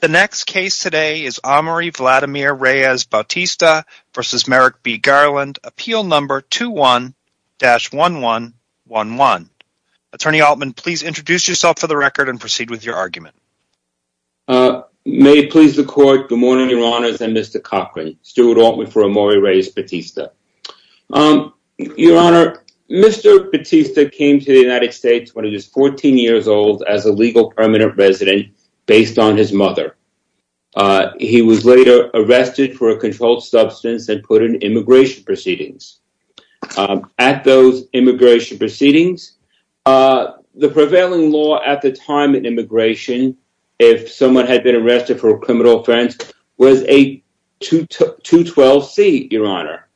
The next case today is Omari Vladimir Reyes-Batista v. Merrick B. Garland, appeal number 21-1111. Attorney Altman, please introduce yourself for the record and proceed with your argument. May it please the court, good morning, your honors, and Mr. Cochran, Stuart Altman for Omari Reyes-Batista. Your honor, Mr. Batista came to the United States when he was 14 years old as a legal permanent resident based on his mother. He was later arrested for a controlled substance and put in immigration proceedings. At those immigration proceedings, the prevailing law at the time in immigration, if someone had been arrested for a criminal offense, was a 212C, your honor.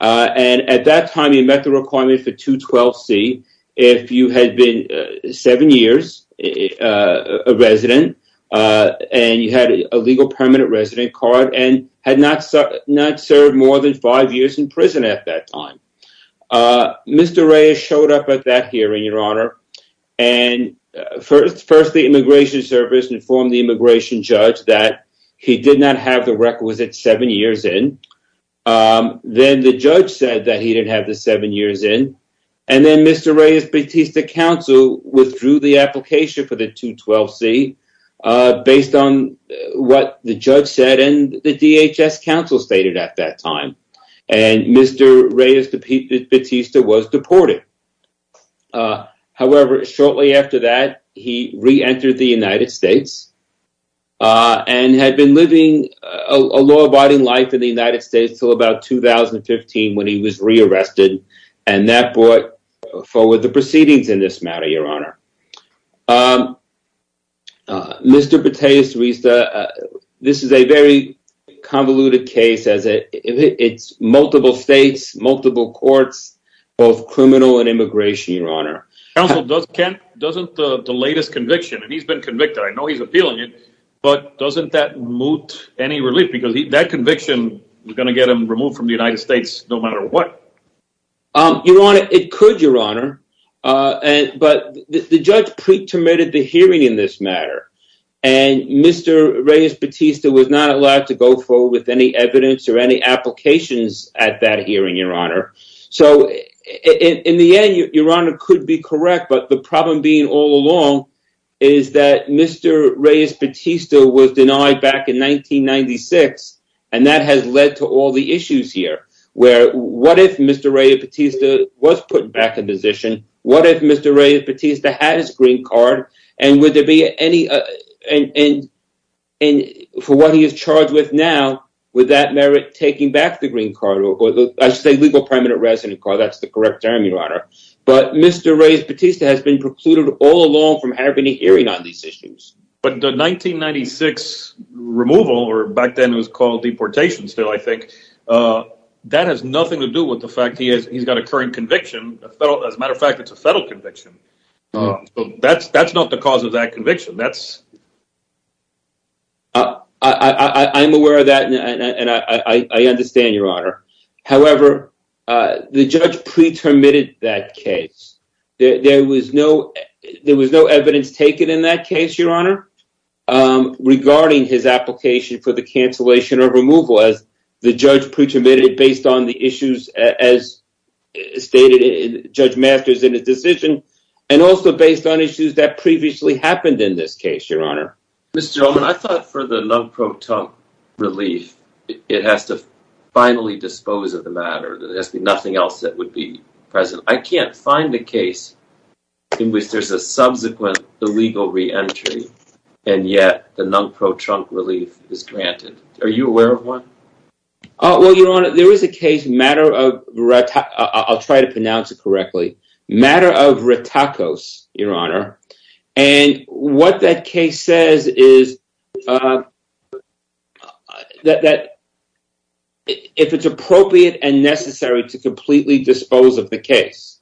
And at that time, you met the requirement for 212C. If you had been seven years a resident and you had a legal permanent resident card and had not served more than five years in prison at that time, Mr. Reyes showed up at that hearing, your honor, and first the immigration service informed the immigration judge that he did not have the requisite seven years in. Then the judge said that he didn't have the seven years in, and then Mr. Reyes-Batista's counsel withdrew the application for the 212C based on what the judge said and the DHS counsel stated at that time, and Mr. Reyes-Batista was deported. However, shortly after that, he reentered the United States and had been living a law-abiding life in the United States until about 2015 when he was re-arrested and that brought forward the proceedings in this matter, your honor. Mr. Batista, this is a very convoluted case. It's multiple states, multiple courts, both criminal and immigration, your honor. Counsel, doesn't the latest conviction, and he's been convicted, I know he's appealing it, but doesn't that moot any relief? Because that conviction was going to get him removed from the United States no matter what. Your honor, it could, your honor, but the judge pre-terminated the hearing in this matter, and Mr. Reyes-Batista was not allowed to go forward with any evidence or any applications at that hearing, your honor. So, in the end, your honor could be correct, but the problem being all 1996, and that has led to all the issues here. What if Mr. Reyes-Batista was put back in position? What if Mr. Reyes-Batista had his green card, and would there be any, for what he is charged with now, would that merit taking back the green card, I should say legal permanent resident card, that's the correct term, your honor. But Mr. Reyes-Batista has been precluded all along from having a hearing on these issues. But the 1996 removal, or back then it was called deportation still, I think, that has nothing to do with the fact he's got a current conviction. As a matter of fact, it's a federal conviction. That's not the cause of that conviction. I'm aware of that, and I understand, your honor. However, the judge pre-terminated that case. There was no evidence taken in that case, your honor, regarding his application for the cancellation or removal as the judge pre-terminated based on the issues as stated in Judge Masters in his decision, and also based on issues that previously happened in this case, your honor. Mr. Ullman, I thought for the non-pro-tump relief, it has to finally dispose of the matter. There has to be nothing else that would be present. I can't find a case in which there's a subsequent illegal re-entry, and yet the non-pro-tump relief is granted. Are you aware of one? Well, your honor, there is a case, I'll try to pronounce it correctly, matter of Ratakos, your honor. And what that case says is that if it's appropriate and necessary to completely dispose of the case.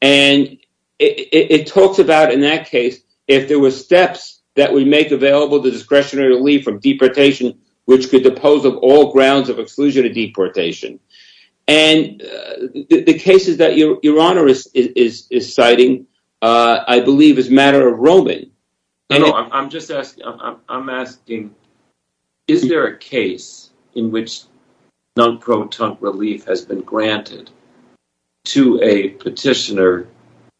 And it talks about, in that case, if there were steps that would make available the discretionary relief from deportation, which could depose of all grounds of exclusion of deportation. And the cases that your honor is citing, I believe, is matter of Roman. I'm just asking, I'm asking, is there a case in which non-pro-tump relief has been granted to a petitioner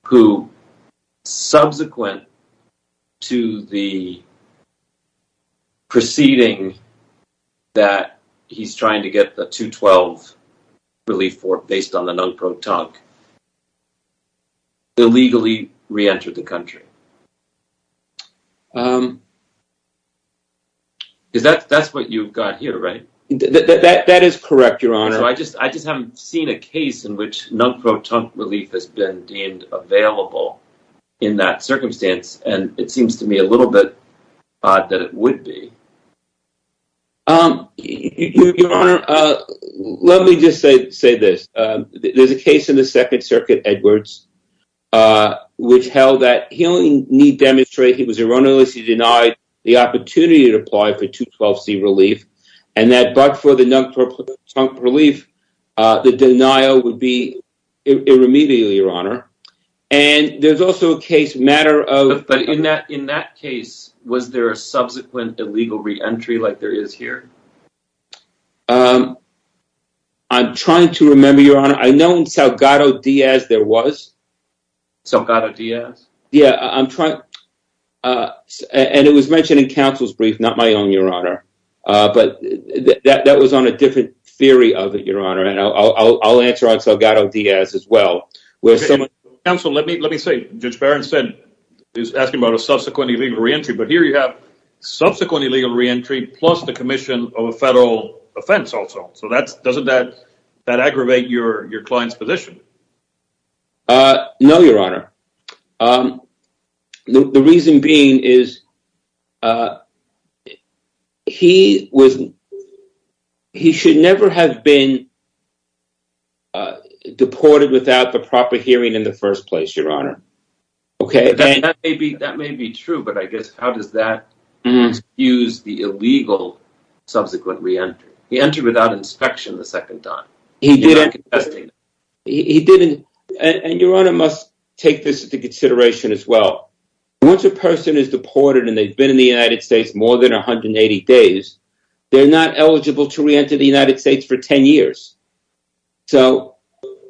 who, subsequent to the proceeding that he's trying to get the 212 relief for, based on the non-pro-tump, illegally re-entered the country? Um, is that, that's what you've got here, right? That is correct, your honor. So I just, I just haven't seen a case in which non-pro-tump relief has been deemed available in that circumstance. And it seems to me a little bit odd that it would be. Um, your honor, uh, let me just say, say this, um, there's a case in the Second Circuit, Edwards, uh, which held that he only need demonstrate he was erroneously denied the opportunity to apply for 212C relief and that, but for the non-pro-tump relief, uh, the denial would be irremediable, your honor. And there's also a case matter of... But in that, in that case, was there a subsequent illegal re-entry like there is here? Um, I'm trying to remember, your honor. I know in Salgado Diaz, there was. Salgado Diaz? Yeah, I'm trying, uh, and it was mentioned in counsel's brief, not my own, your honor. Uh, but that, that was on a different theory of it, your honor. And I'll, I'll, I'll answer on Salgado Diaz as well, where someone... Counsel, let me, let me say, Judge Barron said, is asking about a subsequent illegal re-entry, but here you have subsequent illegal re-entry plus the commission of a federal offense also. So that's, doesn't that, that aggravate your, your client's position? Uh, no, your honor. Um, the reason being is, uh, he was, he should never have been, uh, deported without the proper hearing in the first place, your honor. Okay. That may be, that may be true, but I guess, how does that excuse the illegal subsequent re-entry? He entered without inspection the second time. He didn't, and your honor must take this into consideration as well. Once a person is deported and they've been in the United States more than 180 days, they're not eligible to re-enter the United States for 10 years. So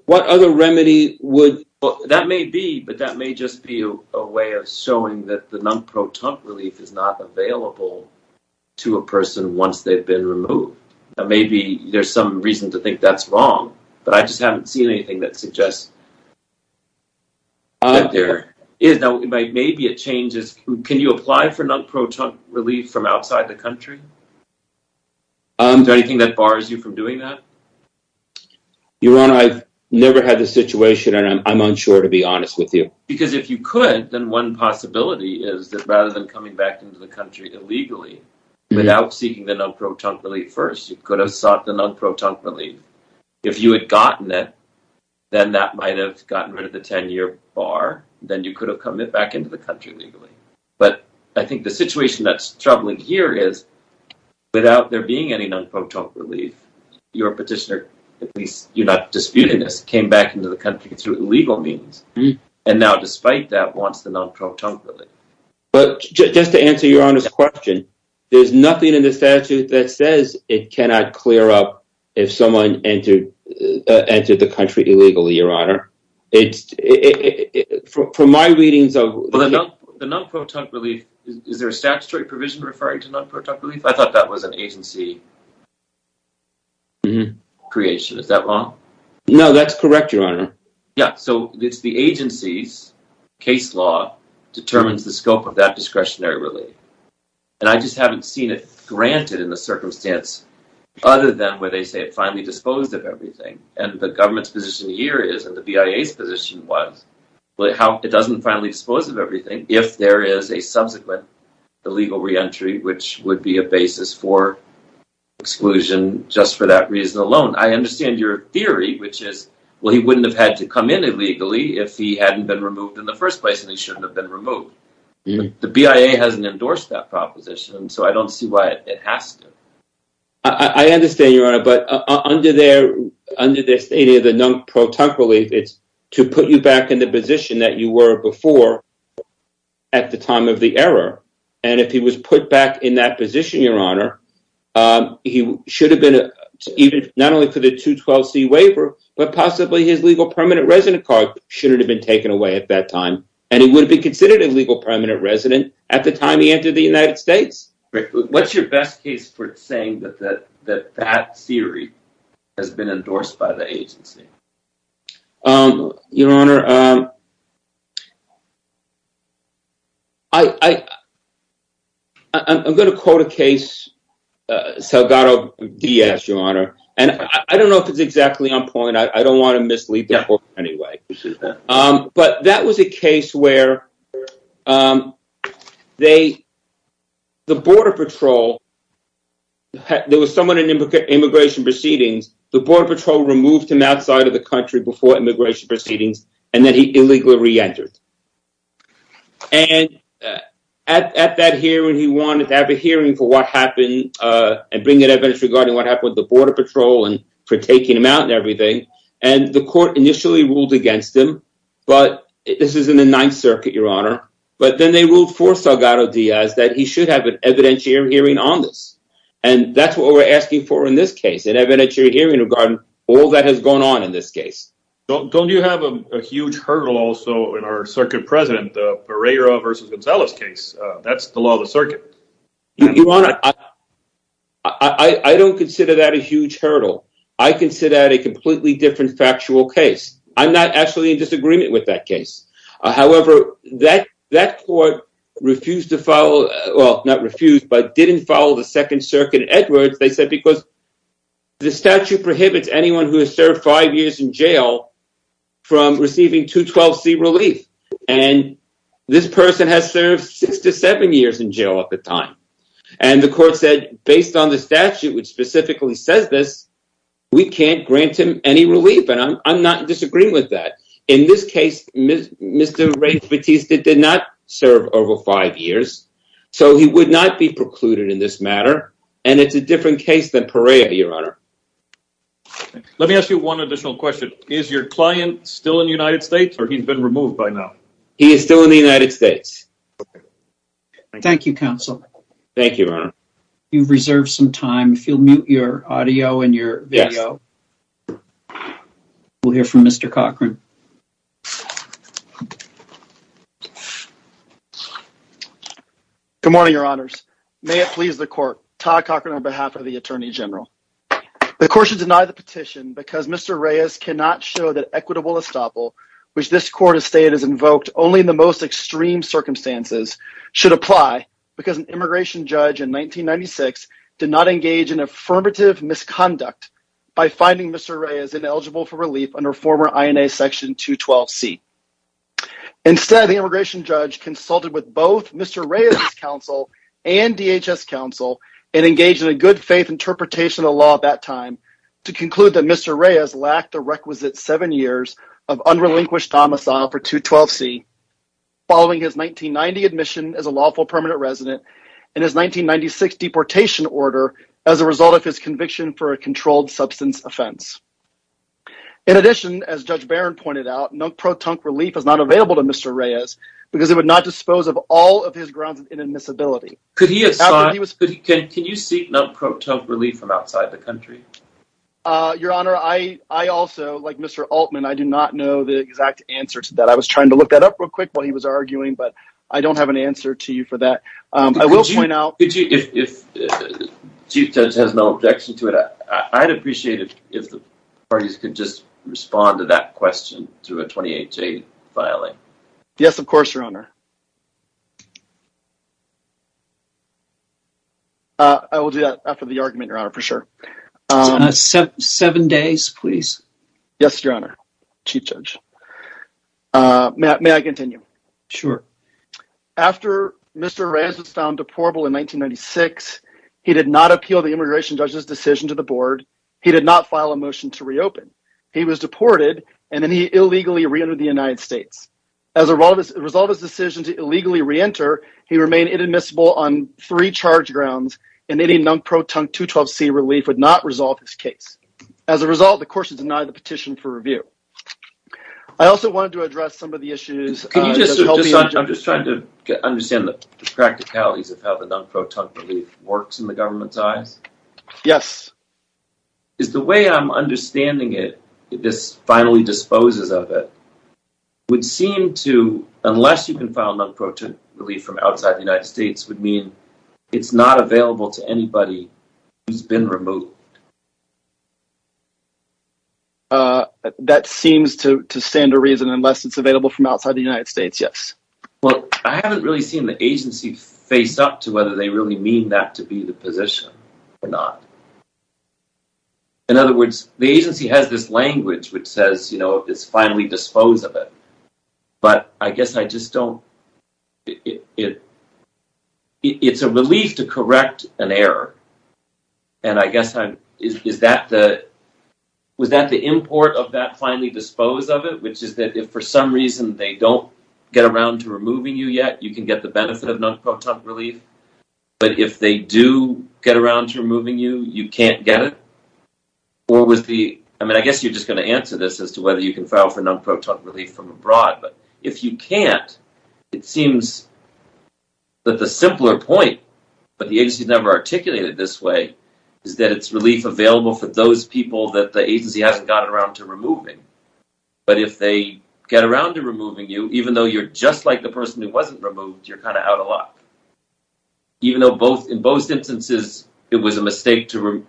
what other remedy would... That may be, but that may just be a way of showing that the non-proton relief is not available to a person once they've been removed. Now, maybe there's some reason to think that's wrong, but I just haven't seen anything that suggests that there is. Now, maybe it changes. Can you apply for non-proton relief from outside the country? Is there anything that bars you from doing that? Your honor, I've never had this situation and I'm unsure to be honest with you. Because if you could, then one possibility is that rather than coming back into the country illegally without seeking the non-proton relief first, you could have sought the non-proton relief. If you had gotten it, then that might've gotten rid of the 10 year bar. Then you could have come it back into the country legally. But I think the situation that's troubling here is without there being any non-proton relief, your petitioner, at least you're not disputing this, came back into the country through illegal means. And now, despite that, wants the non-proton relief. But just to answer your honor's question, there's nothing in the statute that says it cannot clear up if someone entered the country illegally, your honor. From my readings of... The non-proton relief, is there a statutory provision referring to non-proton relief? I thought that was an agency creation. Is that wrong? No, that's correct, your honor. Yeah. So it's the agency's case law determines the scope of that discretionary relief. And I just haven't seen it granted in the circumstance other than where they say it finally disposed of everything. And the government's position here is, and the BIA's position was, how it doesn't finally dispose of everything if there is a subsequent illegal re-entry, which would be a basis for exclusion just for that reason alone. I understand your theory, which is, well, he wouldn't have had to come in illegally if he hadn't been removed in the first place, and he shouldn't have been removed. The BIA hasn't endorsed that proposition, and so I don't see why it has to. I understand, your honor. But under their stating of the non-proton relief, it's to put you back in the position that you were before at the time of the error. And if he was put back in that position, your honor, he should have been, not only for the 212C waiver, but possibly his legal permanent resident card should have been taken away at that time. And he would be considered a legal permanent resident at the time he entered the United States. What's your best case for saying that that theory has been endorsed by the agency? Your honor, I'm going to quote a case, Salgado D.S., your honor. And I don't know if it's exactly on point. I don't want to mislead the court anyway. But that was a case where the Border Patrol, there was someone in immigration proceedings, the Border Patrol removed him outside of the country before immigration proceedings, and then he illegally reentered. And at that hearing, he wanted to have a hearing for what happened and bring in evidence regarding what happened with the Border Patrol and for taking him out and everything. And the court initially ruled against him. But this is in the Ninth Circuit, your honor. But then they ruled for Salgado D.S. that he should have an evidentiary hearing on this. And that's what we're asking for in this case, an evidentiary hearing regarding all that has gone on in this case. Don't you have a huge hurdle also in our circuit president, Pereira v. Gonzalez case? That's the law of the circuit. Your honor, I don't consider that a huge hurdle. I consider that a completely different factual case. I'm not actually in disagreement with that case. However, that court refused to follow, well, not refused, but didn't follow the Second Circuit Edwards, they said, because the statute prohibits anyone who has served five years in jail from receiving 212C relief. And this person has served six to seven years in jail at the time. And the court said, based on the statute, which specifically says this, we can't grant him any relief. And I'm not disagreeing with that. In this case, Mr. Ray did not serve over five years, so he would not be precluded in this matter. And it's a different case than Pereira, your honor. Let me ask you one additional question. Is your client still in the United States or he's been removed by now? He is still in the United States. Thank you, counsel. Thank you, your honor. You've reserved some time. If you'll mute your audio and your video, we'll hear from Mr. Cochran. Good morning, your honors. May it please the court, Todd Cochran, on behalf of the Attorney General. The court should deny the petition because Mr. Reyes cannot show that equitable estoppel, which this court has stated is invoked only in the most extreme circumstances, should apply, because an immigration judge in 1996 did not engage in affirmative misconduct by finding Mr. Reyes ineligible for relief under former INA Section 212C. Instead, the immigration judge consulted with both Mr. Reyes' counsel and DHS counsel and engaged in a good-faith interpretation of the law at that time to conclude that Mr. Reyes lacked the requisite seven years of unrelinquished domicile for 212C following his 1990 admission as a lawful permanent resident and his 1996 deportation order as a result of his conviction for a controlled available to Mr. Reyes because it would not dispose of all of his grounds of inadmissibility. Can you seek non-pro-tonk relief from outside the country? Your honor, I also, like Mr. Altman, I do not know the exact answer to that. I was trying to look that up real quick while he was arguing, but I don't have an answer to you for that. I will point out... If the chief judge has no objection to it, I'd appreciate it if the parties could just file it. Yes, of course, your honor. I will do that after the argument, your honor, for sure. Seven days, please. Yes, your honor, chief judge. May I continue? Sure. After Mr. Reyes was found deportable in 1996, he did not appeal the immigration judge's decision to the board. He did not file a motion to reopen. He was deported, and then he illegally reentered the United States. As a result of his decision to illegally reenter, he remained inadmissible on three charge grounds, and any non-pro-tonk 212c relief would not resolve his case. As a result, the court should deny the petition for review. I also wanted to address some of the issues... I'm just trying to understand the practicalities of how the non-pro-tonk relief works in the government's eyes. Yes. Is the way I'm understanding it, if this finally disposes of it, would seem to, unless you can file non-pro-tonk relief from outside the United States, would mean it's not available to anybody who's been removed? That seems to stand to reason, unless it's available from outside the United States, yes. Well, I haven't really seen the agency face up to whether they really mean that to be the position. In other words, the agency has this language which says, you know, it's finally disposed of it, but I guess I just don't... It's a relief to correct an error, and I guess I'm... Was that the import of that finally dispose of it, which is that if for some reason they don't get around to removing you yet, you can get the benefit of non-pro-tonk relief, but if they do get around to removing you, you can't get it? Or was the... I mean, I guess you're just going to answer this as to whether you can file for non-pro-tonk relief from abroad, but if you can't, it seems that the simpler point, but the agency's never articulated this way, is that it's relief available for those people that the agency hasn't gotten around to removing. But if they get around to removing you, even though you're just like the person who wasn't removed, you're kind of out of luck. Even though in both instances, it was a mistake to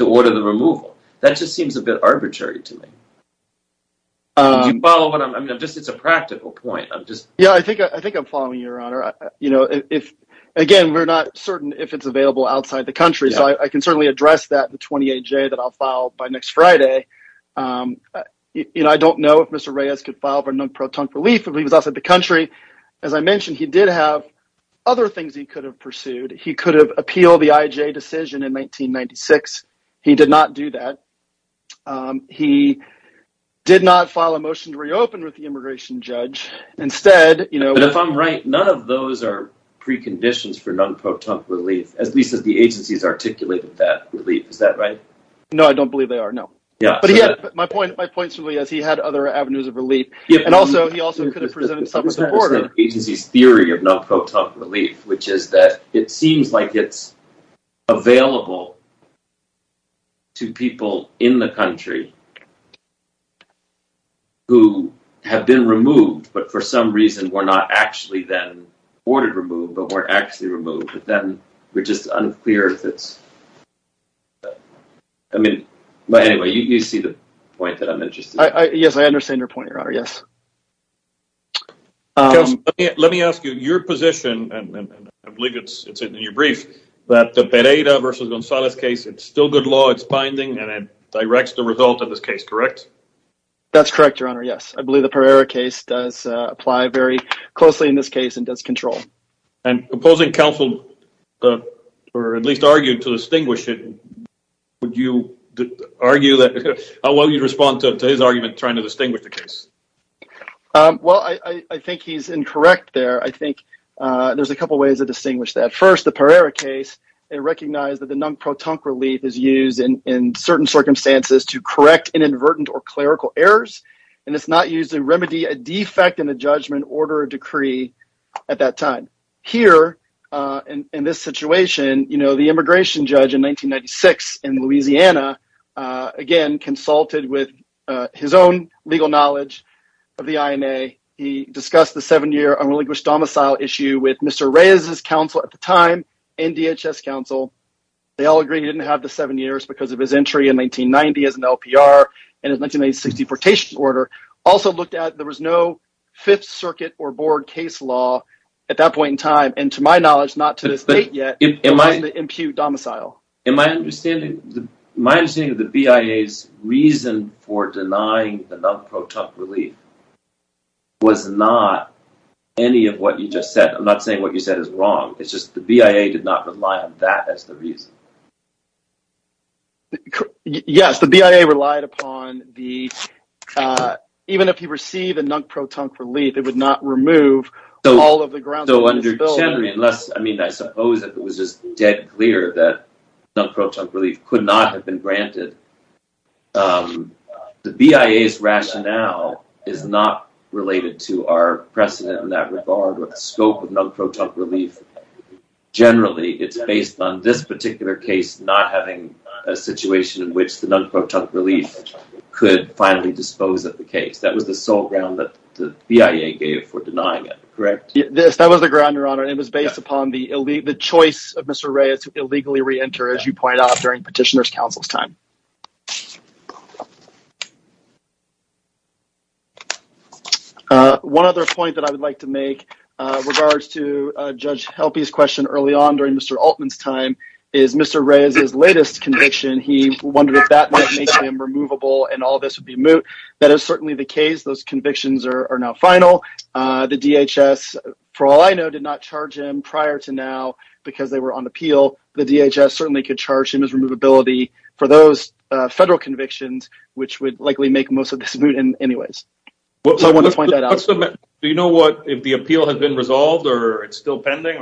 order the removal. That just seems a bit arbitrary to me. Do you follow what I'm... I mean, I'm just... It's a practical point. I'm just... Yeah, I think I'm following you, Your Honor. Again, we're not certain if it's available outside the country, so I can certainly address that with 28J that I'll file by next Friday. I don't know if Mr. Reyes could file for non-pro-tonk relief if he was outside the country. As I mentioned, he did have other things he could have pursued. He could have appealed the IJ decision in 1996. He did not do that. He did not file a motion to reopen with the immigration judge. Instead, you know... But if I'm right, none of those are preconditions for non-pro-tonk relief, at least that the agency's articulated that relief. Is that right? No, I don't believe they are, no. But yeah, my point certainly is he had other avenues of relief. And also, he also could have presented something with the border. The agency's theory of non-pro-tonk relief, which is that it seems like it's available to people in the country who have been removed, but for some reason were not actually then ordered removed, but were actually removed. But then we're just unclear if it's... I mean, but anyway, you see the point that I'm interested in. Yes, I understand your point, Your Honor. Yes. Let me ask you, your position, and I believe it's in your brief, that the Pereira versus Gonzalez case, it's still good law, it's binding, and it directs the result of this case, correct? That's correct, Your Honor. Yes, I believe the Pereira case does apply very closely in this case and does control. And opposing counsel, or at least argued to distinguish the case. Well, I think he's incorrect there. I think there's a couple of ways to distinguish that. First, the Pereira case, it recognized that the non-pro-tonk relief is used in certain circumstances to correct inadvertent or clerical errors, and it's not used to remedy a defect in the judgment, order, or decree at that time. Here, in this situation, the immigration judge in 1996 in Louisiana, again, consulted with his own legal knowledge of the INA. He discussed the seven-year unrelinquished domicile issue with Mr. Reyes's counsel at the time, and DHS counsel. They all agreed he didn't have the seven years because of his entry in 1990 as an LPR and his 1960 portation order. Also looked at, there was no Fifth Circuit or Board case law at that point in time, and to my knowledge, not to this date yet, it doesn't impute domicile. In my understanding, my understanding of the BIA's reason for denying the non-pro-tonk relief was not any of what you just said. I'm not saying what you said is wrong, it's just the BIA did not rely on that as the reason. Yes, the BIA relied upon the, even if you receive a non-pro-tonk relief, it would not remove all of the grounds for disability. Under Chenery, unless, I mean, I suppose if it was just dead clear that non-pro-tonk relief could not have been granted, the BIA's rationale is not related to our precedent in that regard, or the scope of non-pro-tonk relief. Generally, it's based on this particular case not having a situation in which the non-pro-tonk relief could finally dispose of the case. That was the ground, Your Honor, and it was based upon the choice of Mr. Reyes to illegally re-enter, as you pointed out during Petitioner's Counsel's time. One other point that I would like to make regards to Judge Helpy's question early on during Mr. Altman's time is Mr. Reyes's latest conviction, he wondered if that might make him removable and all this would be moot. That is certainly the case, those convictions are now final. The DHS, for all I know, did not charge him prior to now because they were on appeal. The DHS certainly could charge him as removability for those federal convictions, which would likely make most of this moot anyways. So I want to point that out. Do you know what, if the appeal had been resolved or it's still pending?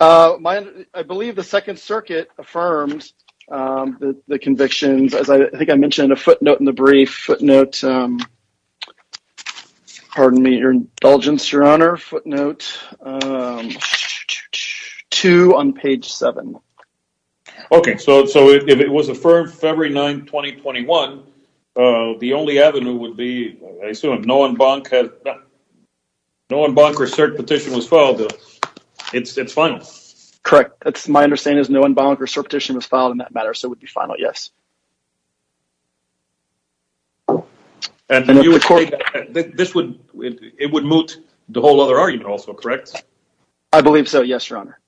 I believe the Second Circuit affirmed the convictions, as I think I mentioned, a footnote in the brief, footnote, pardon me, your indulgence, Your Honor, footnote 2 on page 7. Okay, so if it was affirmed February 9, 2021, the only avenue would be, I assume, if no one bonk or cert petition was filed, it's final? Correct, that's my understanding is no one bonk or cert petition was filed in that matter, so it would be final, yes. And it would moot the whole other argument also, correct? I believe so, yes, Your Honor.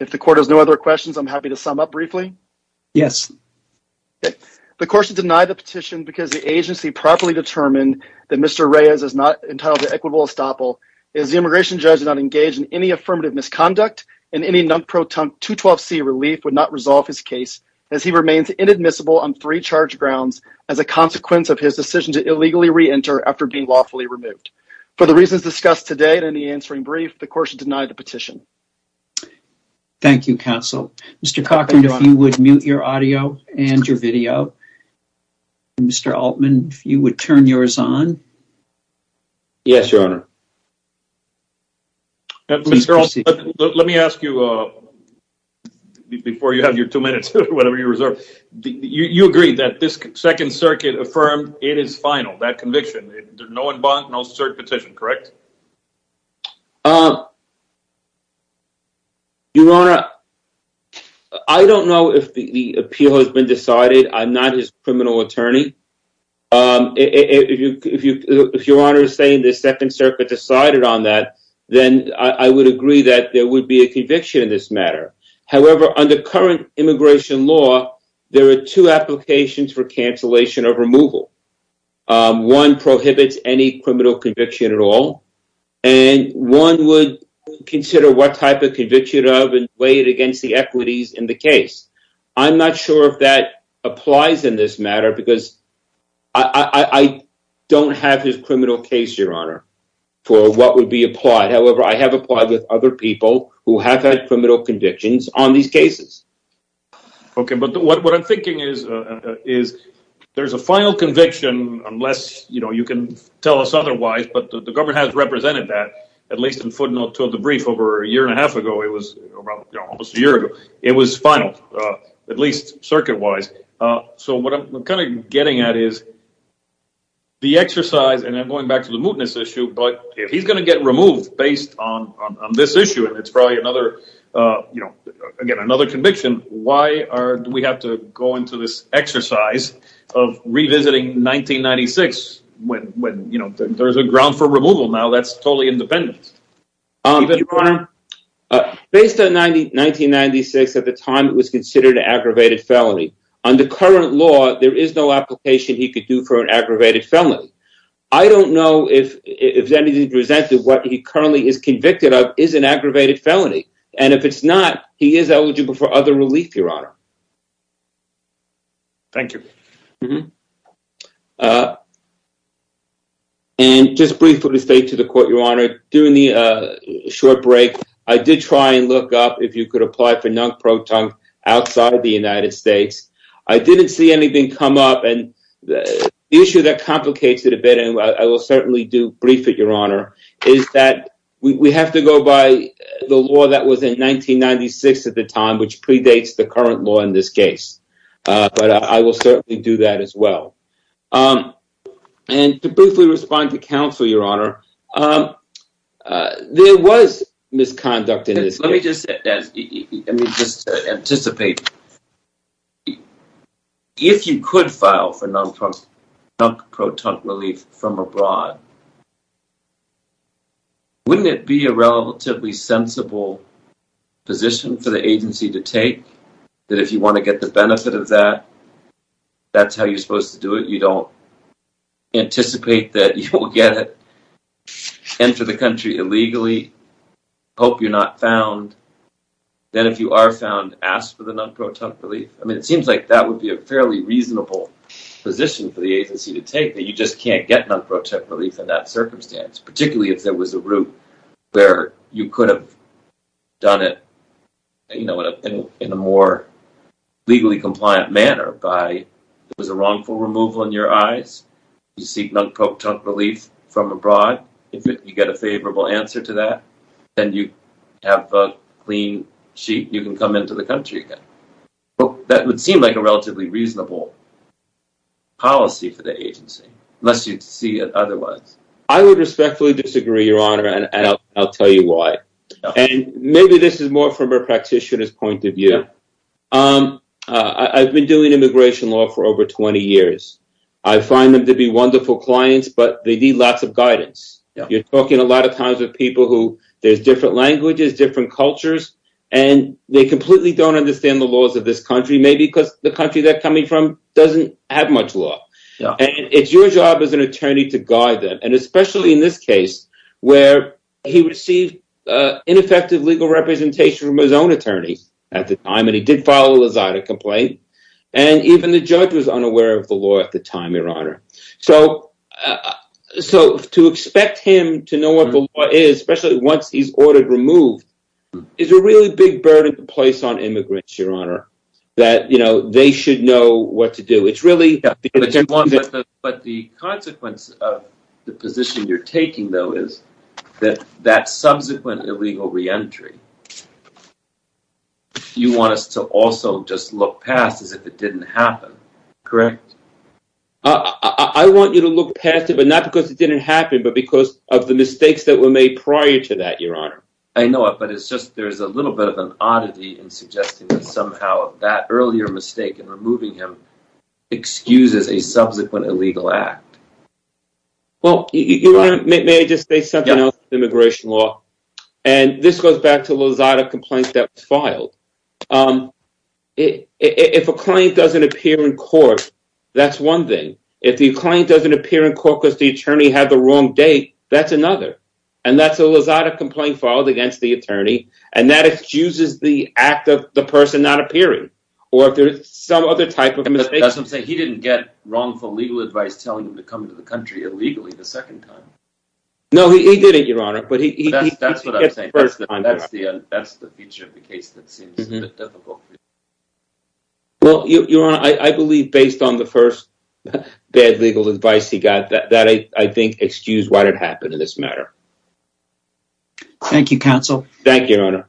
If the court has no other questions, I'm happy to sum up briefly. Yes. The court should deny the petition because the agency properly determined that Mr. Reyes is not entitled to equitable estoppel. Is the immigration judge not engaged in any affirmative misconduct and any non-proton 212c relief would not resolve his case as he remains inadmissible on three charge grounds as a consequence of his decision to illegally re-enter after being lawfully removed. For the reasons discussed today in the answering brief, the court should deny the petition. Thank you, counsel. Mr. Cochran, if you would mute your audio and your let me ask you, before you have your two minutes, whatever you reserve, you agree that this second circuit affirmed it is final, that conviction, no one bonk, no cert petition, correct? Your Honor, I don't know if the appeal has been decided. I'm not his criminal attorney. If Your Honor is saying the second circuit decided on that, then I would agree that there would be a conviction in this matter. However, under current immigration law, there are two applications for cancellation of removal. One prohibits any criminal conviction at all, and one would consider what type of conviction of and weigh it against the equities in the case. I'm not sure if that applies in this matter because I don't have his criminal case, Your Honor, for what would be applied. However, I have applied with other people who have had criminal convictions on these cases. Okay, but what I'm thinking is there's a final conviction, unless you can tell us otherwise, but the government has represented that, at least in footnote two of the brief over a year and a It was final, at least circuit-wise. So, what I'm kind of getting at is the exercise, and I'm going back to the mootness issue, but if he's going to get removed based on this issue, and it's probably another, you know, again, another conviction, why do we have to go into this exercise of revisiting 1996 when, you know, there's a ground for removal now that's independent? Based on 1996, at the time, it was considered an aggravated felony. Under current law, there is no application he could do for an aggravated felony. I don't know if anything presented what he currently is convicted of is an aggravated felony, and if it's not, he is eligible for other relief, Your Honor. Thank you. Mm-hmm. And just briefly to say to the court, Your Honor, during the short break, I did try and look up if you could apply for non-proton outside of the United States. I didn't see anything come up, and the issue that complicates it a bit, and I will certainly do brief it, Your Honor, is that we have to go by the law that was in 1996 at the time, which predates the current law in this case, but I will certainly do that as well. And to briefly respond to counsel, Your Honor, there was misconduct in this case. Let me just, let me just anticipate. If you could file for non-proton relief from abroad, wouldn't it be a relatively sensible position for the agency to take that if you want to get the benefit of that, that's how you're supposed to do it? You don't anticipate that you will get it into the country illegally, hope you're not found. Then if you are found, ask for the non-proton relief. I mean, it seems like that would be a fairly reasonable position for the agency to take that you just can't get non-proton relief in that circumstance, particularly if there was a route where you could have done it, you know, in a more legally compliant manner by, it was a wrongful removal in your eyes, you seek non-proton relief from abroad, if you get a favorable answer to that, then you have a clean sheet, you can come into the country again. Well, that would seem like a relatively reasonable policy for the agency, unless you'd see it otherwise. I would respectfully disagree, your honor, and I'll tell you why. And maybe this is more from a practitioner's point of view. I've been doing immigration law for over 20 years. I find them to be wonderful clients, but they need lots of guidance. You're talking a lot of times with people who, there's different languages, different cultures, and they completely don't understand the laws of this country, maybe because the country they're coming from doesn't have much law. And it's your job as an attorney to guide them, and especially in this case, where he received ineffective legal representation from his own attorney at the time, and he did file a Lazada complaint, and even the judge was unaware of the law at the time, your honor. So, to expect him to know what the law is, especially once he's ordered removed, is a really big burden to place on immigrants, your honor. That, you know, they should know what to do. But the consequence of the position you're taking, though, is that that subsequent illegal re-entry, you want us to also just look past as if it didn't happen, correct? I want you to look past it, but not because it didn't happen, but because of the mistakes that were made prior to that, your honor. I know it, but it's just there's a little bit of an oddity in suggesting that somehow that earlier mistake in removing him excuses a subsequent illegal act. Well, your honor, may I just say something else about immigration law? And this goes back to the Lazada complaint that was filed. If a claim doesn't appear in court, that's one thing. If the claim doesn't appear in court because the attorney had the wrong date, that's another. And that's a Lazada complaint filed against the attorney, and that excuses the act of the person not appearing, or if there's some other type of mistake. That's what I'm saying. He didn't get wrongful legal advice telling him to come to the country illegally the second time. No, he didn't, your honor. But that's the feature of the case that seems a bit difficult. Well, your honor, I believe based on the first bad legal advice he got, that I think excused why it happened in this matter. Thank you, counsel. Thank you, your honor.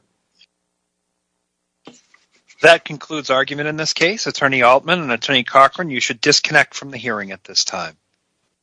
That concludes argument in this case. Attorney Altman and Attorney Cochran, you should disconnect from the hearing at this time.